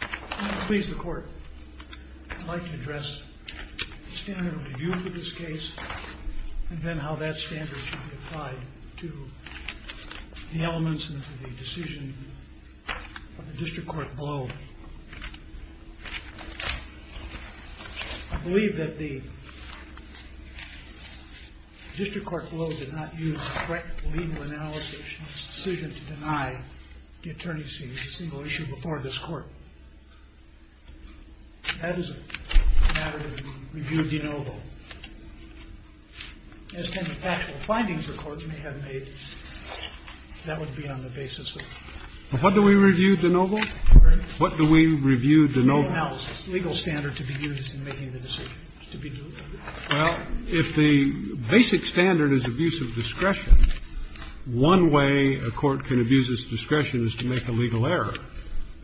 I am pleased the court would like to address the standard of review for this case and then how that standard should be applied to the elements of the decision of the district court blow. I believe that the district court blow did not use a correct legal analysis decision to deny the attorneys a single issue before this court. That is a matter of review de novo. If the basic standard is abuse of discretion, one way a court can abuse its discretion is to make a legal error.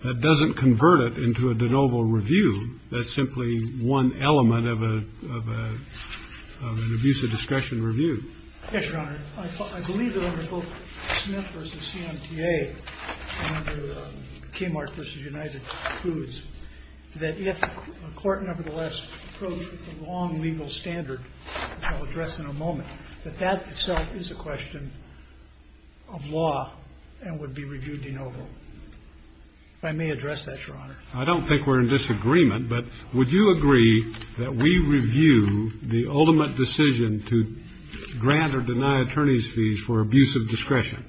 That doesn't convert it into a de novo review. That's simply one element of an abuse of discretion review. Yes, Your Honor. I believe that under both Smith v. CMTA and under Kmart v. United Foods that if a court nevertheless approached a long legal standard, which I'll address in a moment, that that itself is a question of law and would be reviewed de novo. If I may address that, Your Honor. I don't think we're in disagreement, but would you agree that we review the ultimate decision to grant or deny attorneys fees for abuse of discretion?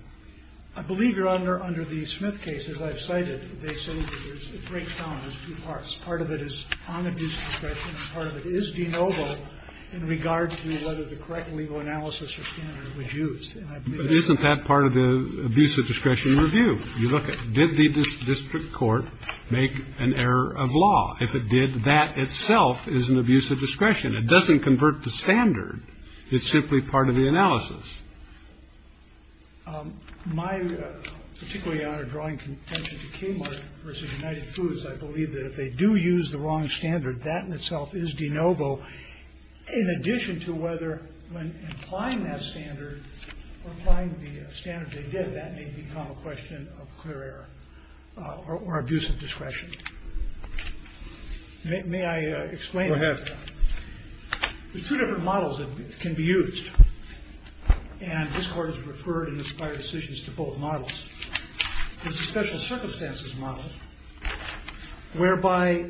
I believe, Your Honor, under the Smith case, as I've cited, it breaks down into two parts. Part of it is on abuse of discretion and part of it is de novo in regard to whether the correct legal analysis or standard was used. But isn't that part of the abuse of discretion review? You look at did the district court make an error of law? If it did, that itself is an abuse of discretion. It doesn't convert to standard. It's simply part of the analysis. My particular, Your Honor, drawing contention to Kmart v. United Foods, I believe that if they do use the wrong standard, that in itself is de novo, in addition to whether when applying that standard or applying the standard they did, that may become a question of clear error or abuse of discretion. May I explain that? Go ahead. There's two different models that can be used, and this Court has referred and inspired decisions to both models. There's the special circumstances model, whereby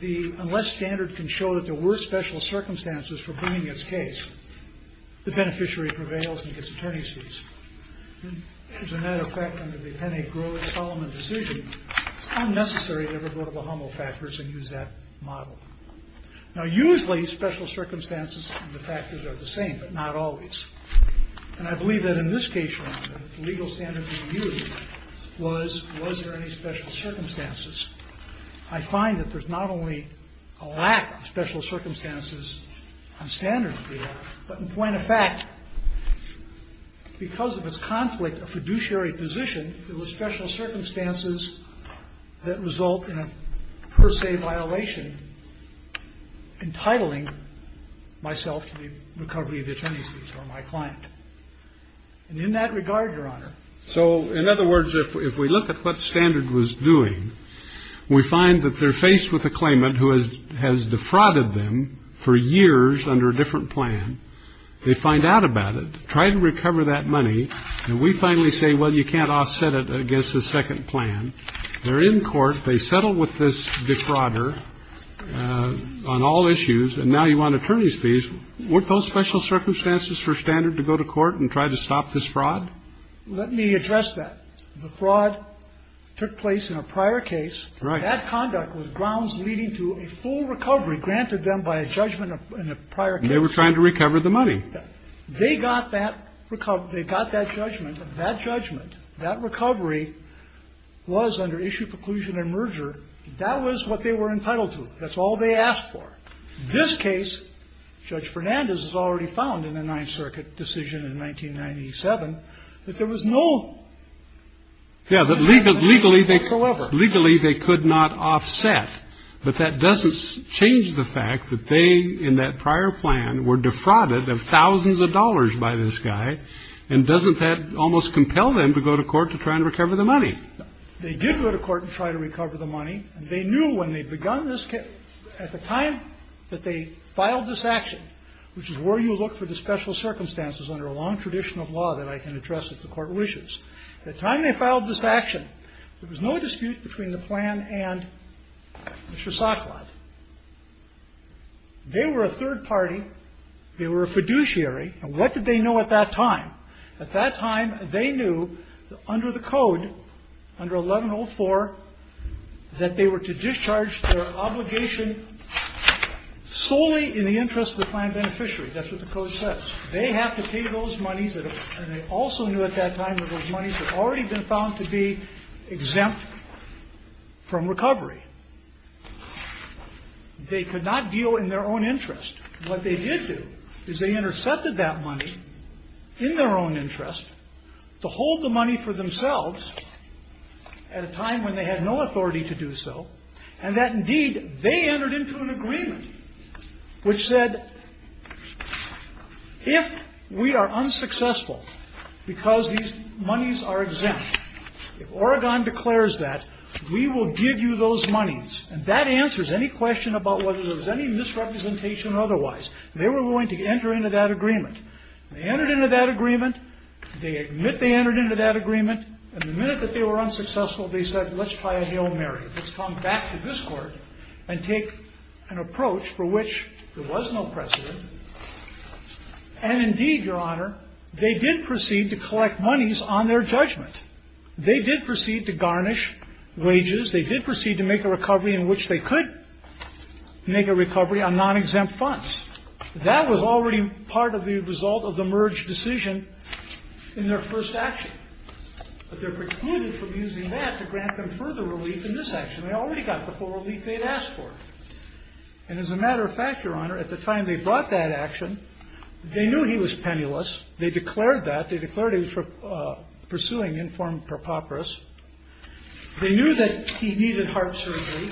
the unless standard can show that there were special circumstances for bringing its case, the beneficiary prevails and gets attorney's fees. As a matter of fact, under the Penney, Grove, Solomon decision, it's unnecessary to ever go to the Hummel factors and use that model. Now, usually special circumstances and the factors are the same, but not always. And I believe that in this case, Your Honor, the legal standard being used was was there any special circumstances? I find that there's not only a lack of special circumstances on standard of the law, but in point of fact, because of its conflict of fiduciary position, there were special circumstances that result in a per se violation entitling myself to the recovery of the attorney's fees or my client. And in that regard, Your Honor? So in other words, if we look at what standard was doing, we find that they're faced with a claimant who has has defrauded them for years under a different plan. They find out about it, try to recover that money. And we finally say, well, you can't offset it against the second plan. They're in court. They settle with this defrauder on all issues. And now you want attorney's fees. Weren't those special circumstances for standard to go to court and try to stop this fraud? Let me address that. The fraud took place in a prior case. Right. That conduct was grounds leading to a full recovery granted them by a judgment in a prior case. They were trying to recover the money. They got that recovery. They got that judgment. That judgment, that recovery was under issue preclusion and merger. That was what they were entitled to. That's all they asked for. This case, Judge Fernandez has already found in the Ninth Circuit decision in 1997, that there was no. Yeah, but legally, legally, legally, they could not offset. But that doesn't change the fact that they, in that prior plan, were defrauded of thousands of dollars by this guy. And doesn't that almost compel them to go to court to try and recover the money? They did go to court and try to recover the money. And they knew when they'd begun this case, at the time that they filed this action, which is where you look for the special circumstances under a long tradition of law that I can address if the court wishes. At the time they filed this action, there was no dispute between the plan and Mr. Sacklot. They were a third party. They were a fiduciary. And what did they know at that time? At that time, they knew under the code, under 1104, that they were to discharge their obligation solely in the interest of the plan beneficiary. That's what the code says. They have to pay those monies, and they also knew at that time that those monies had already been found to be exempt from recovery. They could not deal in their own interest. What they did do is they intercepted that money in their own interest to hold the money for themselves at a time when they had no authority to do so, and that indeed they entered into an agreement which said, if we are unsuccessful because these monies are exempt, if Oregon declares that, we will give you those monies. And that answers any question about whether there was any misrepresentation or otherwise. They were going to enter into that agreement. They entered into that agreement. They admit they entered into that agreement. And the minute that they were unsuccessful, they said, let's try a Hail Mary. Let's come back to this court and take an approach for which there was no precedent. And indeed, Your Honor, they did proceed to collect monies on their judgment. They did proceed to garnish wages. They did proceed to make a recovery in which they could make a recovery on non-exempt funds. That was already part of the result of the merge decision in their first action. But they're precluded from using that to grant them further relief in this action. They already got the full relief they had asked for. And as a matter of fact, Your Honor, at the time they brought that action, they knew he was penniless. They declared that. They declared he was pursuing informed preposterous. They knew that he needed heart surgery.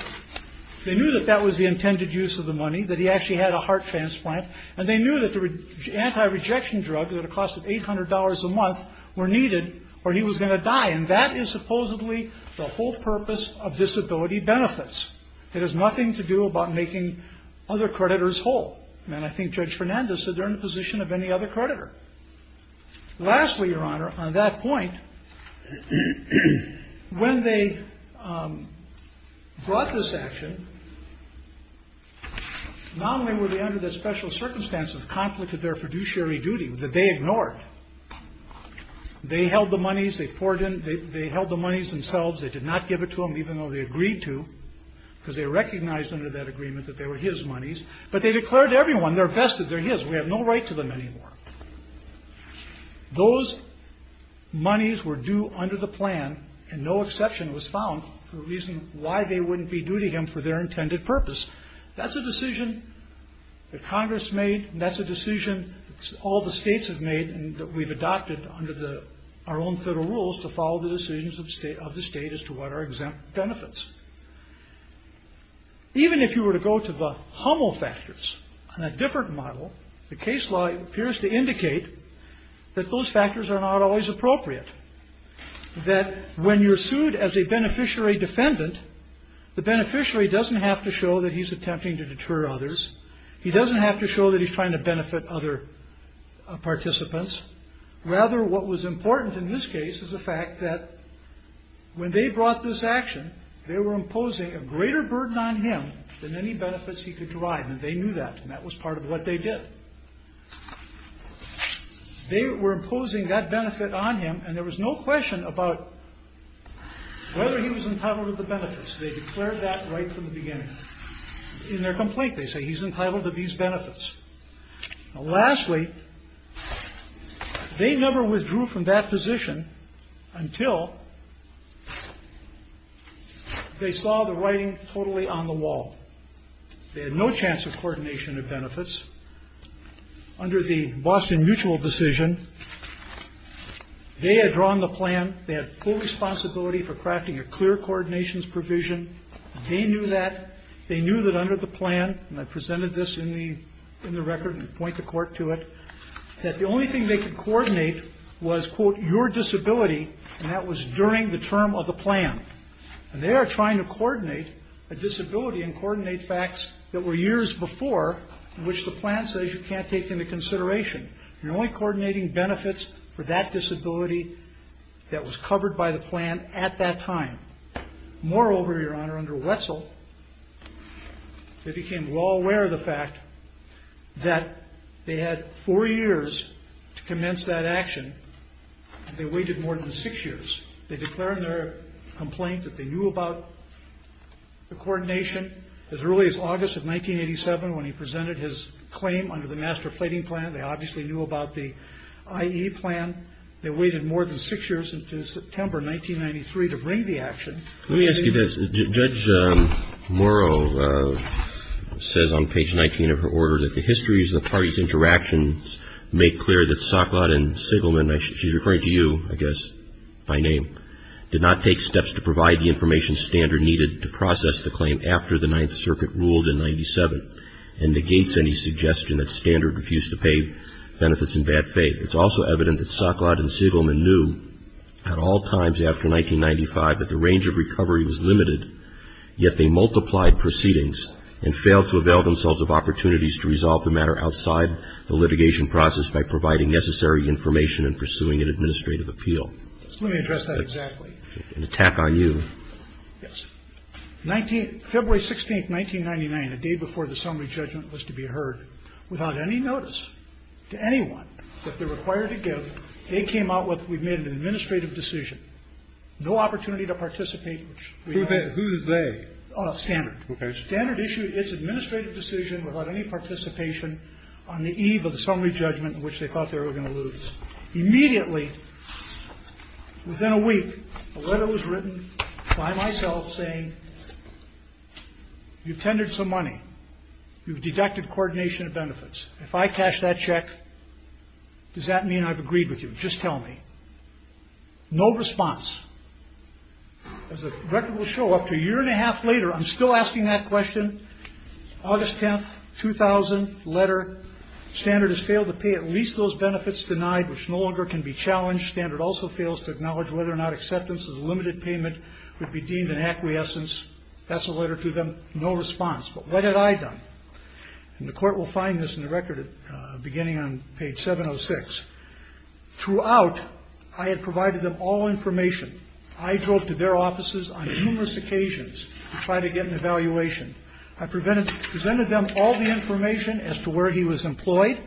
They knew that that was the intended use of the money, that he actually had a heart transplant. And they knew that the anti-rejection drug, at a cost of $800 a month, were needed or he was going to die. And that is supposedly the whole purpose of disability benefits. It has nothing to do about making other creditors whole. And I think Judge Fernandez said they're in the position of any other creditor. Lastly, Your Honor, on that point, when they brought this action, not only were they under the special circumstance of conflict of their fiduciary duty, that they ignored. They held the monies. They poured in. They held the monies themselves. They did not give it to him, even though they agreed to, because they recognized under that agreement that they were his monies. But they declared to everyone, they're vested, they're his. We have no right to them anymore. Those monies were due under the plan and no exception was found for the reason why they wouldn't be due to him for their intended purpose. That's a decision that Congress made and that's a decision all the states have made and that we've adopted under our own federal rules to follow the decisions of the state as to what are exempt benefits. Even if you were to go to the Hummel factors on a different model, the case law appears to indicate that those factors are not always appropriate, that when you're sued as a beneficiary defendant, the beneficiary doesn't have to show that he's attempting to deter others. He doesn't have to show that he's trying to benefit other participants. Rather, what was important in this case was the fact that when they brought this action, they were imposing a greater burden on him than any benefits he could derive, and they knew that, and that was part of what they did. They were imposing that benefit on him, and there was no question about whether he was entitled to the benefits. They declared that right from the beginning. In their complaint, they say he's entitled to these benefits. Lastly, they never withdrew from that position until they saw the writing totally on the wall. They had no chance of coordination of benefits. Under the Boston Mutual decision, they had drawn the plan. They had full responsibility for crafting a clear coordinations provision. They knew that. They knew that under the plan, and I presented this in the record and point the court to it, that the only thing they could coordinate was, quote, your disability, and that was during the term of the plan. And they are trying to coordinate a disability and coordinate facts that were years before, which the plan says you can't take into consideration. You're only coordinating benefits for that disability that was covered by the plan at that time. Moreover, Your Honor, under Wetzel, they became well aware of the fact that they had four years to commence that action. They waited more than six years. They declared in their complaint that they knew about the coordination as early as August of 1987 when he presented his claim under the master plating plan. They obviously knew about the IE plan. They waited more than six years until September 1993 to bring the action. Let me ask you this. Judge Morrow says on page 19 of her order that the histories of the parties' interactions make clear that Soklod and Sigelman, she's referring to you, I guess, by name, did not take steps to provide the information standard needed to process the claim after the Ninth Circuit ruled in 97 and negates any suggestion that standard refused to pay benefits in bad faith. It's also evident that Soklod and Sigelman knew at all times after 1995 that the range of recovery was limited, yet they multiplied proceedings and failed to avail themselves of opportunities to resolve the matter outside the litigation process by providing necessary information and pursuing an administrative appeal. Let me address that exactly. I'm going to tap on you. Yes. February 16, 1999, a day before the summary judgment was to be heard, without any notice to anyone that they're required to give, they came out with, we've made an administrative decision, no opportunity to participate. Who's they? Standard. Okay. Standard issued its administrative decision without any participation on the eve of the summary judgment, which they thought they were going to lose. Immediately, within a week, a letter was written by myself saying, you've tendered some money. You've deducted coordination of benefits. If I cash that check, does that mean I've agreed with you? Just tell me. No response. As the record will show, up to a year and a half later, I'm still asking that question. August 10, 2000, letter. Standard has failed to pay at least those benefits denied, which no longer can be challenged. Standard also fails to acknowledge whether or not acceptance of the limited payment would be deemed an acquiescence. That's a letter to them. No response. But what had I done? And the court will find this in the record beginning on page 706. Throughout, I had provided them all information. I drove to their offices on numerous occasions to try to get an evaluation. I presented them all the information as to where he was employed.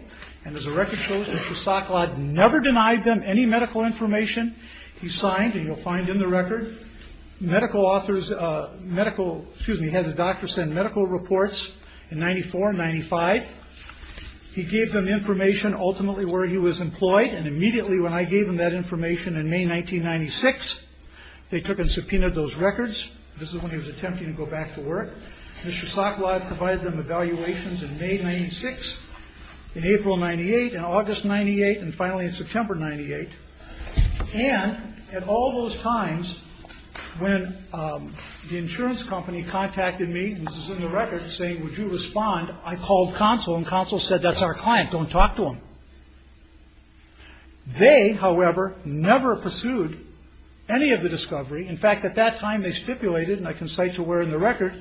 And as the record shows, Mr. Stocklaw never denied them any medical information. He signed, and you'll find in the record, medical authors, medical, excuse me, had the doctor send medical reports in 94 and 95. He gave them information ultimately where he was employed, and immediately when I gave them that information in May 1996, they took and subpoenaed those records. This is when he was attempting to go back to work. Mr. Stocklaw provided them evaluations in May 96, in April 98, in August 98, and finally in September 98. And at all those times, when the insurance company contacted me, and this is in the record, saying, would you respond, I called Consul, and Consul said, that's our client, don't talk to him. They, however, never pursued any of the discovery. In fact, at that time, they stipulated, and I can cite to where in the record,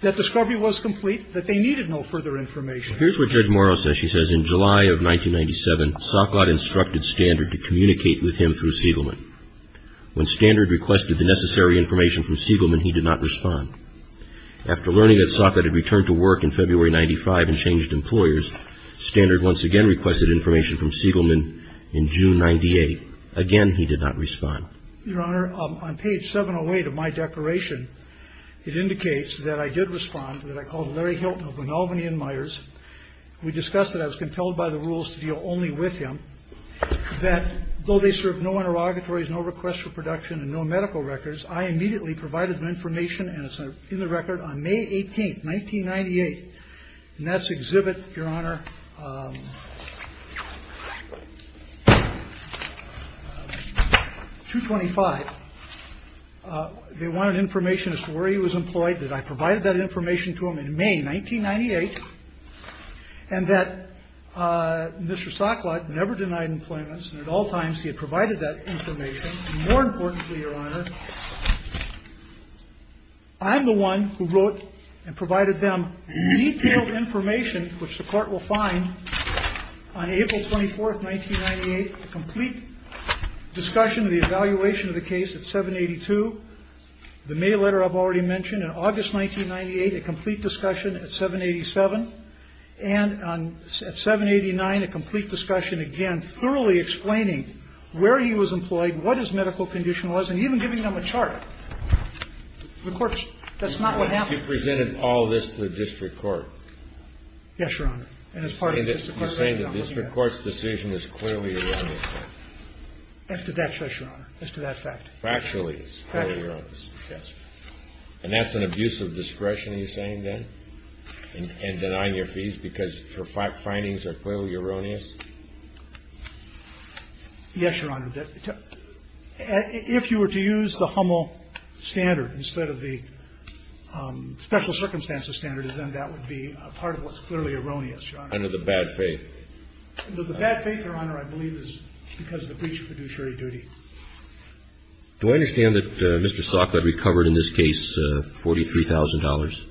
that discovery was complete, that they needed no further information. Here's what Judge Morrow says. She says, in July of 1997, Socklot instructed Standard to communicate with him through Siegelman. When Standard requested the necessary information from Siegelman, he did not respond. After learning that Socklot had returned to work in February 95 and changed employers, Standard once again requested information from Siegelman in June 98. Again, he did not respond. Your Honor, on page 708 of my declaration, it indicates that I did respond, that I was compelled by the rules to deal only with him, that though they served no interrogatories, no requests for production, and no medical records, I immediately provided them information, and it's in the record, on May 18, 1998. And that's exhibit, Your Honor, 225. They wanted information as to where he was employed, that I provided that information to him in May 1998, and that Mr. Socklot never denied employment, and at all times, he had provided that information. And more importantly, Your Honor, I'm the one who wrote and provided them detailed information, which the Court will find on April 24, 1998, a complete discussion of the evaluation of the case at 782, the mail letter I've already mentioned. In August 1998, a complete discussion at 787, and at 789, a complete discussion again, thoroughly explaining where he was employed, what his medical condition was, and even giving them a chart. The Court's – that's not what happened. You presented all of this to the district court. Yes, Your Honor. And as part of the district court's decision, I'm looking at it. You're saying the district court's decision is clearly a wrong in fact. As to that fact, Your Honor. As to that fact. Factually, it's clearly wrong. Factually, yes. And that's an abuse of discretion, are you saying, then, in denying your fees, because your findings are clearly erroneous? Yes, Your Honor. If you were to use the HUML standard instead of the special circumstances standard, then that would be part of what's clearly erroneous, Your Honor. Under the bad faith. Under the bad faith, Your Honor, I believe is because of the breach of fiduciary Do I understand that Mr. Salka recovered in this case $43,000?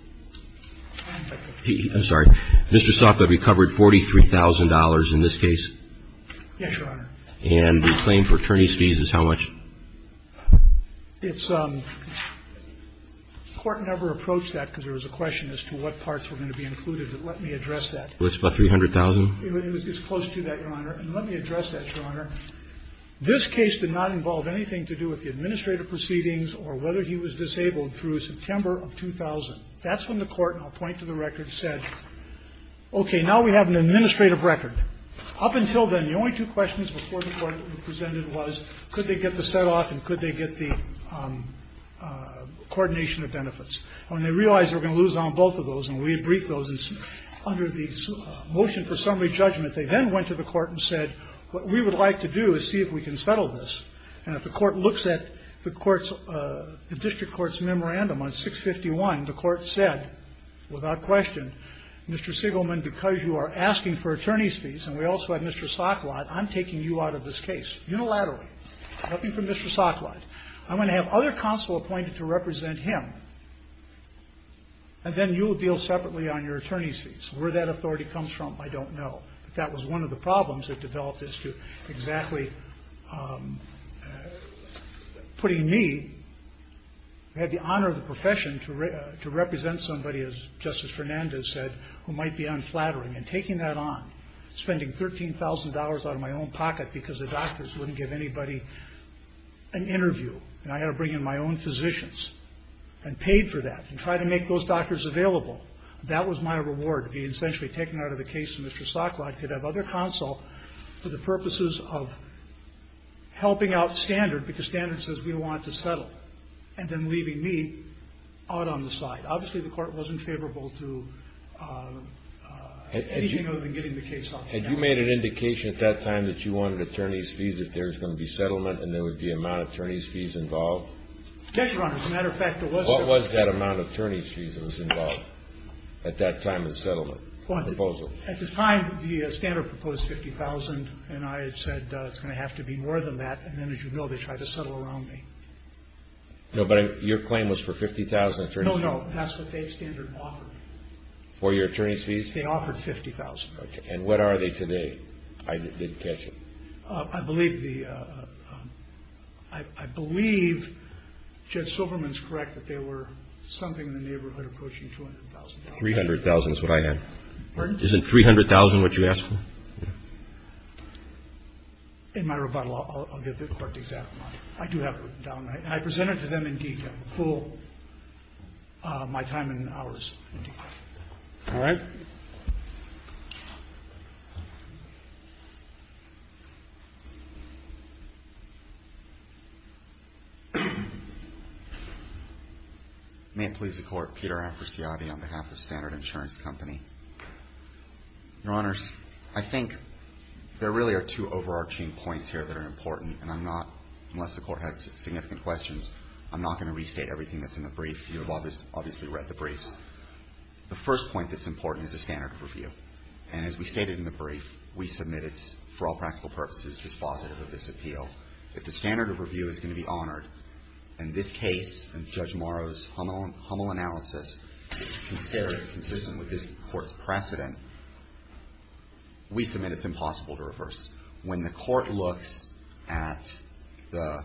I'm sorry. Mr. Salka recovered $43,000 in this case? Yes, Your Honor. And the claim for attorney's fees is how much? It's – the Court never approached that because there was a question as to what parts were going to be included, but let me address that. It was about $300,000? It was close to that, Your Honor. And let me address that, Your Honor. This case did not involve anything to do with the administrative proceedings or whether he was disabled through September of 2000. That's when the Court, and I'll point to the record, said, okay, now we have an administrative record. Up until then, the only two questions before the Court presented was, could they get the set-off and could they get the coordination of benefits? And when they realized they were going to lose on both of those, and we had briefed those under the motion for summary judgment, they then went to the Court and said, what we would like to do is see if we can settle this. And if the Court looks at the District Court's memorandum on 651, the Court said without question, Mr. Sigelman, because you are asking for attorney's fees, and we also have Mr. Sokolat, I'm taking you out of this case unilaterally. Nothing from Mr. Sokolat. I'm going to have other counsel appointed to represent him, and then you will deal separately on your attorney's fees. Where that authority comes from, I don't know. But that was one of the problems that developed as to exactly putting me, I had the honor of the profession, to represent somebody, as Justice Fernandez said, who might be unflattering. And taking that on, spending $13,000 out of my own pocket because the doctors wouldn't give anybody an interview, and I had to bring in my own physicians, and paid for that and tried to make those doctors available. That was my reward, to be essentially taken out of the case, and Mr. Sokolat could have other counsel for the purposes of helping out Standard, because Standard says we want it to settle, and then leaving me out on the side. Obviously, the Court wasn't favorable to anything other than getting the case out. And you made an indication at that time that you wanted attorney's fees, if there was going to be settlement, and there would be amount of attorney's fees involved? Yes, Your Honor. As a matter of fact, there was. What was that amount of attorney's fees that was involved at that time in the settlement proposal? At the time, the Standard proposed $50,000, and I had said it's going to have to be more than that, and then, as you know, they tried to settle around me. No, but your claim was for $50,000 attorney's fees? No, no, that's what they, Standard, offered. For your attorney's fees? They offered $50,000. And what are they today? I didn't catch it. I believe the, I believe Judge Silverman's correct that there were something in the neighborhood approaching $200,000. $300,000 is what I had. Pardon? Isn't $300,000 what you asked for? In my rebuttal, I'll give the Court the exact amount. I do have it down. I presented to them in detail, full, my time and hours in detail. All right. May it please the Court. Peter Apresciati on behalf of Standard Insurance Company. Your Honors, I think there really are two overarching points here that are important, and I'm not, unless the Court has significant questions, I'm not going to restate everything that's in the brief. You have obviously read the briefs. The first point that's important is the standard of review, and as we stated in the brief, we submit it's, for all practical purposes, dispositive of this appeal. If the standard of review is going to be honored, and this case, and Judge Morrow's humble analysis, is considered consistent with this Court's precedent, we submit it's impossible to reverse. When the Court looks at the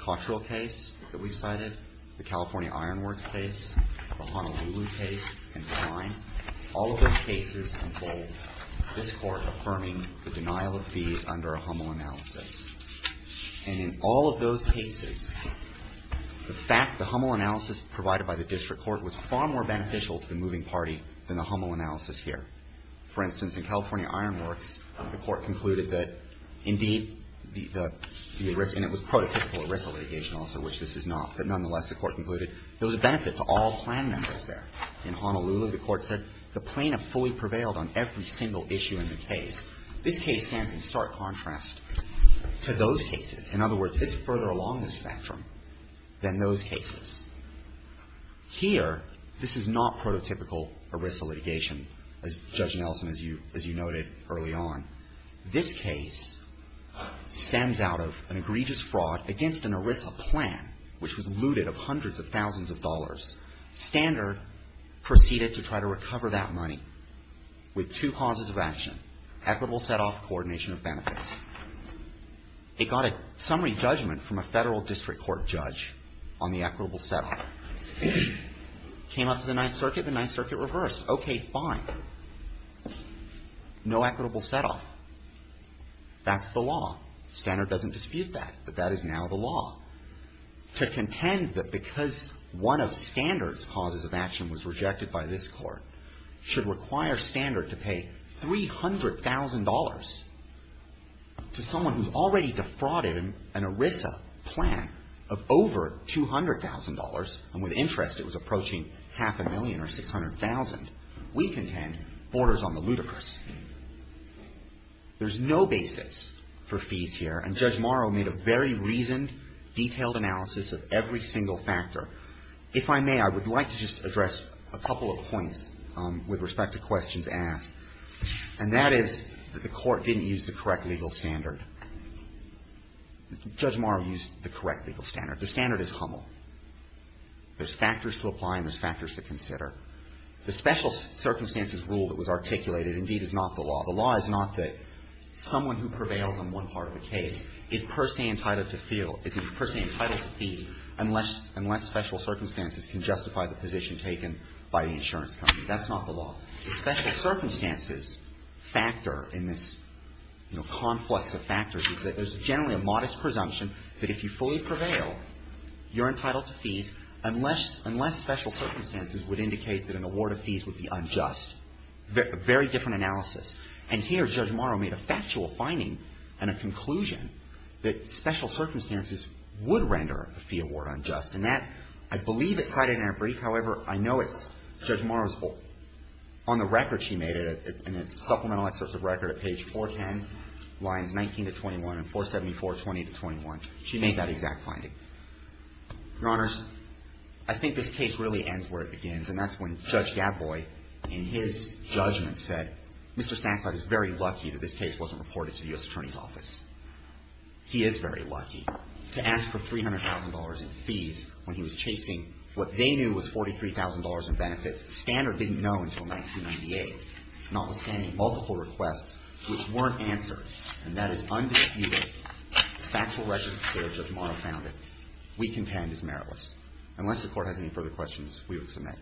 Kaushal case that we've cited, the California Iron Works case, the Honolulu case, and the Lyme, all of those cases involve this Court affirming the denial of fees under a humble analysis. And in all of those cases, the fact, the humble analysis provided by the district court was far more beneficial to the moving party than the humble analysis here. For instance, in California Iron Works, the Court concluded that, indeed, the risk, and it was prototypical risk litigation also, which this is not, but nonetheless, the Court concluded there was a benefit to all plan members there. In Honolulu, the Court said the plaintiff fully prevailed on every single issue in the case. This case stands in stark contrast to those cases. In other words, it's further along the spectrum than those cases. Here, this is not prototypical ERISA litigation, as Judge Nelson, as you noted early on. This case stems out of an egregious fraud against an ERISA plan, which was looted of hundreds of thousands of dollars. Standard proceeded to try to recover that money with two causes of action, equitable setoff, coordination of benefits. It got a summary judgment from a Federal district court judge on the equitable setoff. Came up to the Ninth Circuit. The Ninth Circuit reversed. Okay, fine. No equitable setoff. That's the law. Standard doesn't dispute that, but that is now the law. To contend that because one of Standard's causes of action was rejected by this Court should require Standard to pay $300,000 to someone who's already defrauded an ERISA plan of over $200,000, and with interest it was approaching half a million or $600,000, we contend borders on the ludicrous. There's no basis for fees here, and Judge Morrow made a very reasoned, detailed analysis of every single factor. If I may, I would like to just address a couple of points with respect to questions asked, and that is that the Court didn't use the correct legal standard. Judge Morrow used the correct legal standard. The standard is HUML. There's factors to apply and there's factors to consider. The special circumstances rule that was articulated indeed is not the law. The law is not that someone who prevails on one part of a case is per se entitled to feel, is per se entitled to fees unless special circumstances can justify the position taken by the insurance company. That's not the law. The special circumstances factor in this, you know, complex of factors is that there's generally a modest presumption that if you fully prevail, you're entitled to fees unless special circumstances would indicate that an award of fees would be unjust. Very different analysis. And here, Judge Morrow made a factual finding and a conclusion that special circumstances would render a fee award unjust. And that, I believe it's cited in her brief. However, I know it's Judge Morrow's book. On the record, she made it in a supplemental excerpt of record at page 410, lines 19 to 21 and 474, 20 to 21. She made that exact finding. Your Honors, I think this case really ends where it begins, and that's when Judge Gatboy, in his judgment, said, Mr. Sankoff is very lucky that this case wasn't reported to the U.S. Attorney's Office. He is very lucky to ask for $300,000 in fees when he was chasing what they knew was $43,000 in benefits. The scanner didn't know until 1998, notwithstanding multiple requests which weren't answered. And that is undisputed factual record that Judge Morrow founded. We contend it's meritless. Unless the Court has any further questions, we will submit.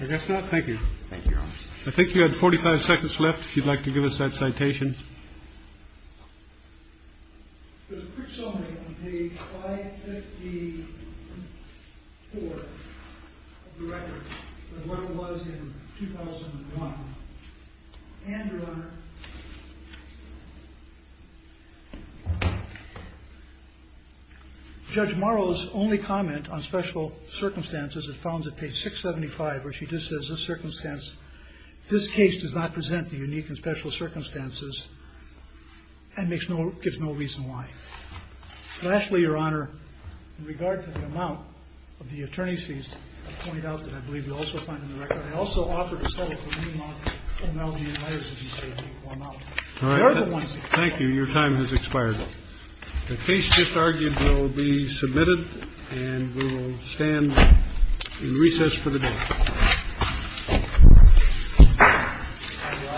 I guess not. Thank you. Thank you, Your Honors. I think you had 45 seconds left if you'd like to give us that citation. There's a quick summary on page 554 of the record of what it was in 2001. And, Your Honor, Judge Morrow's only comment on special circumstances is found at page 675, where she just says, this case does not present the unique and special circumstances and makes no – gives no reason why. Lastly, Your Honor, in regard to the amount of the attorney's fees pointed out that I believe we also find in the record, I also offer to settle for any amount of homology and letters that you say take equal amount. All right. Thank you. Your time has expired. The case just argued will be submitted, and we will stand in recess for the day.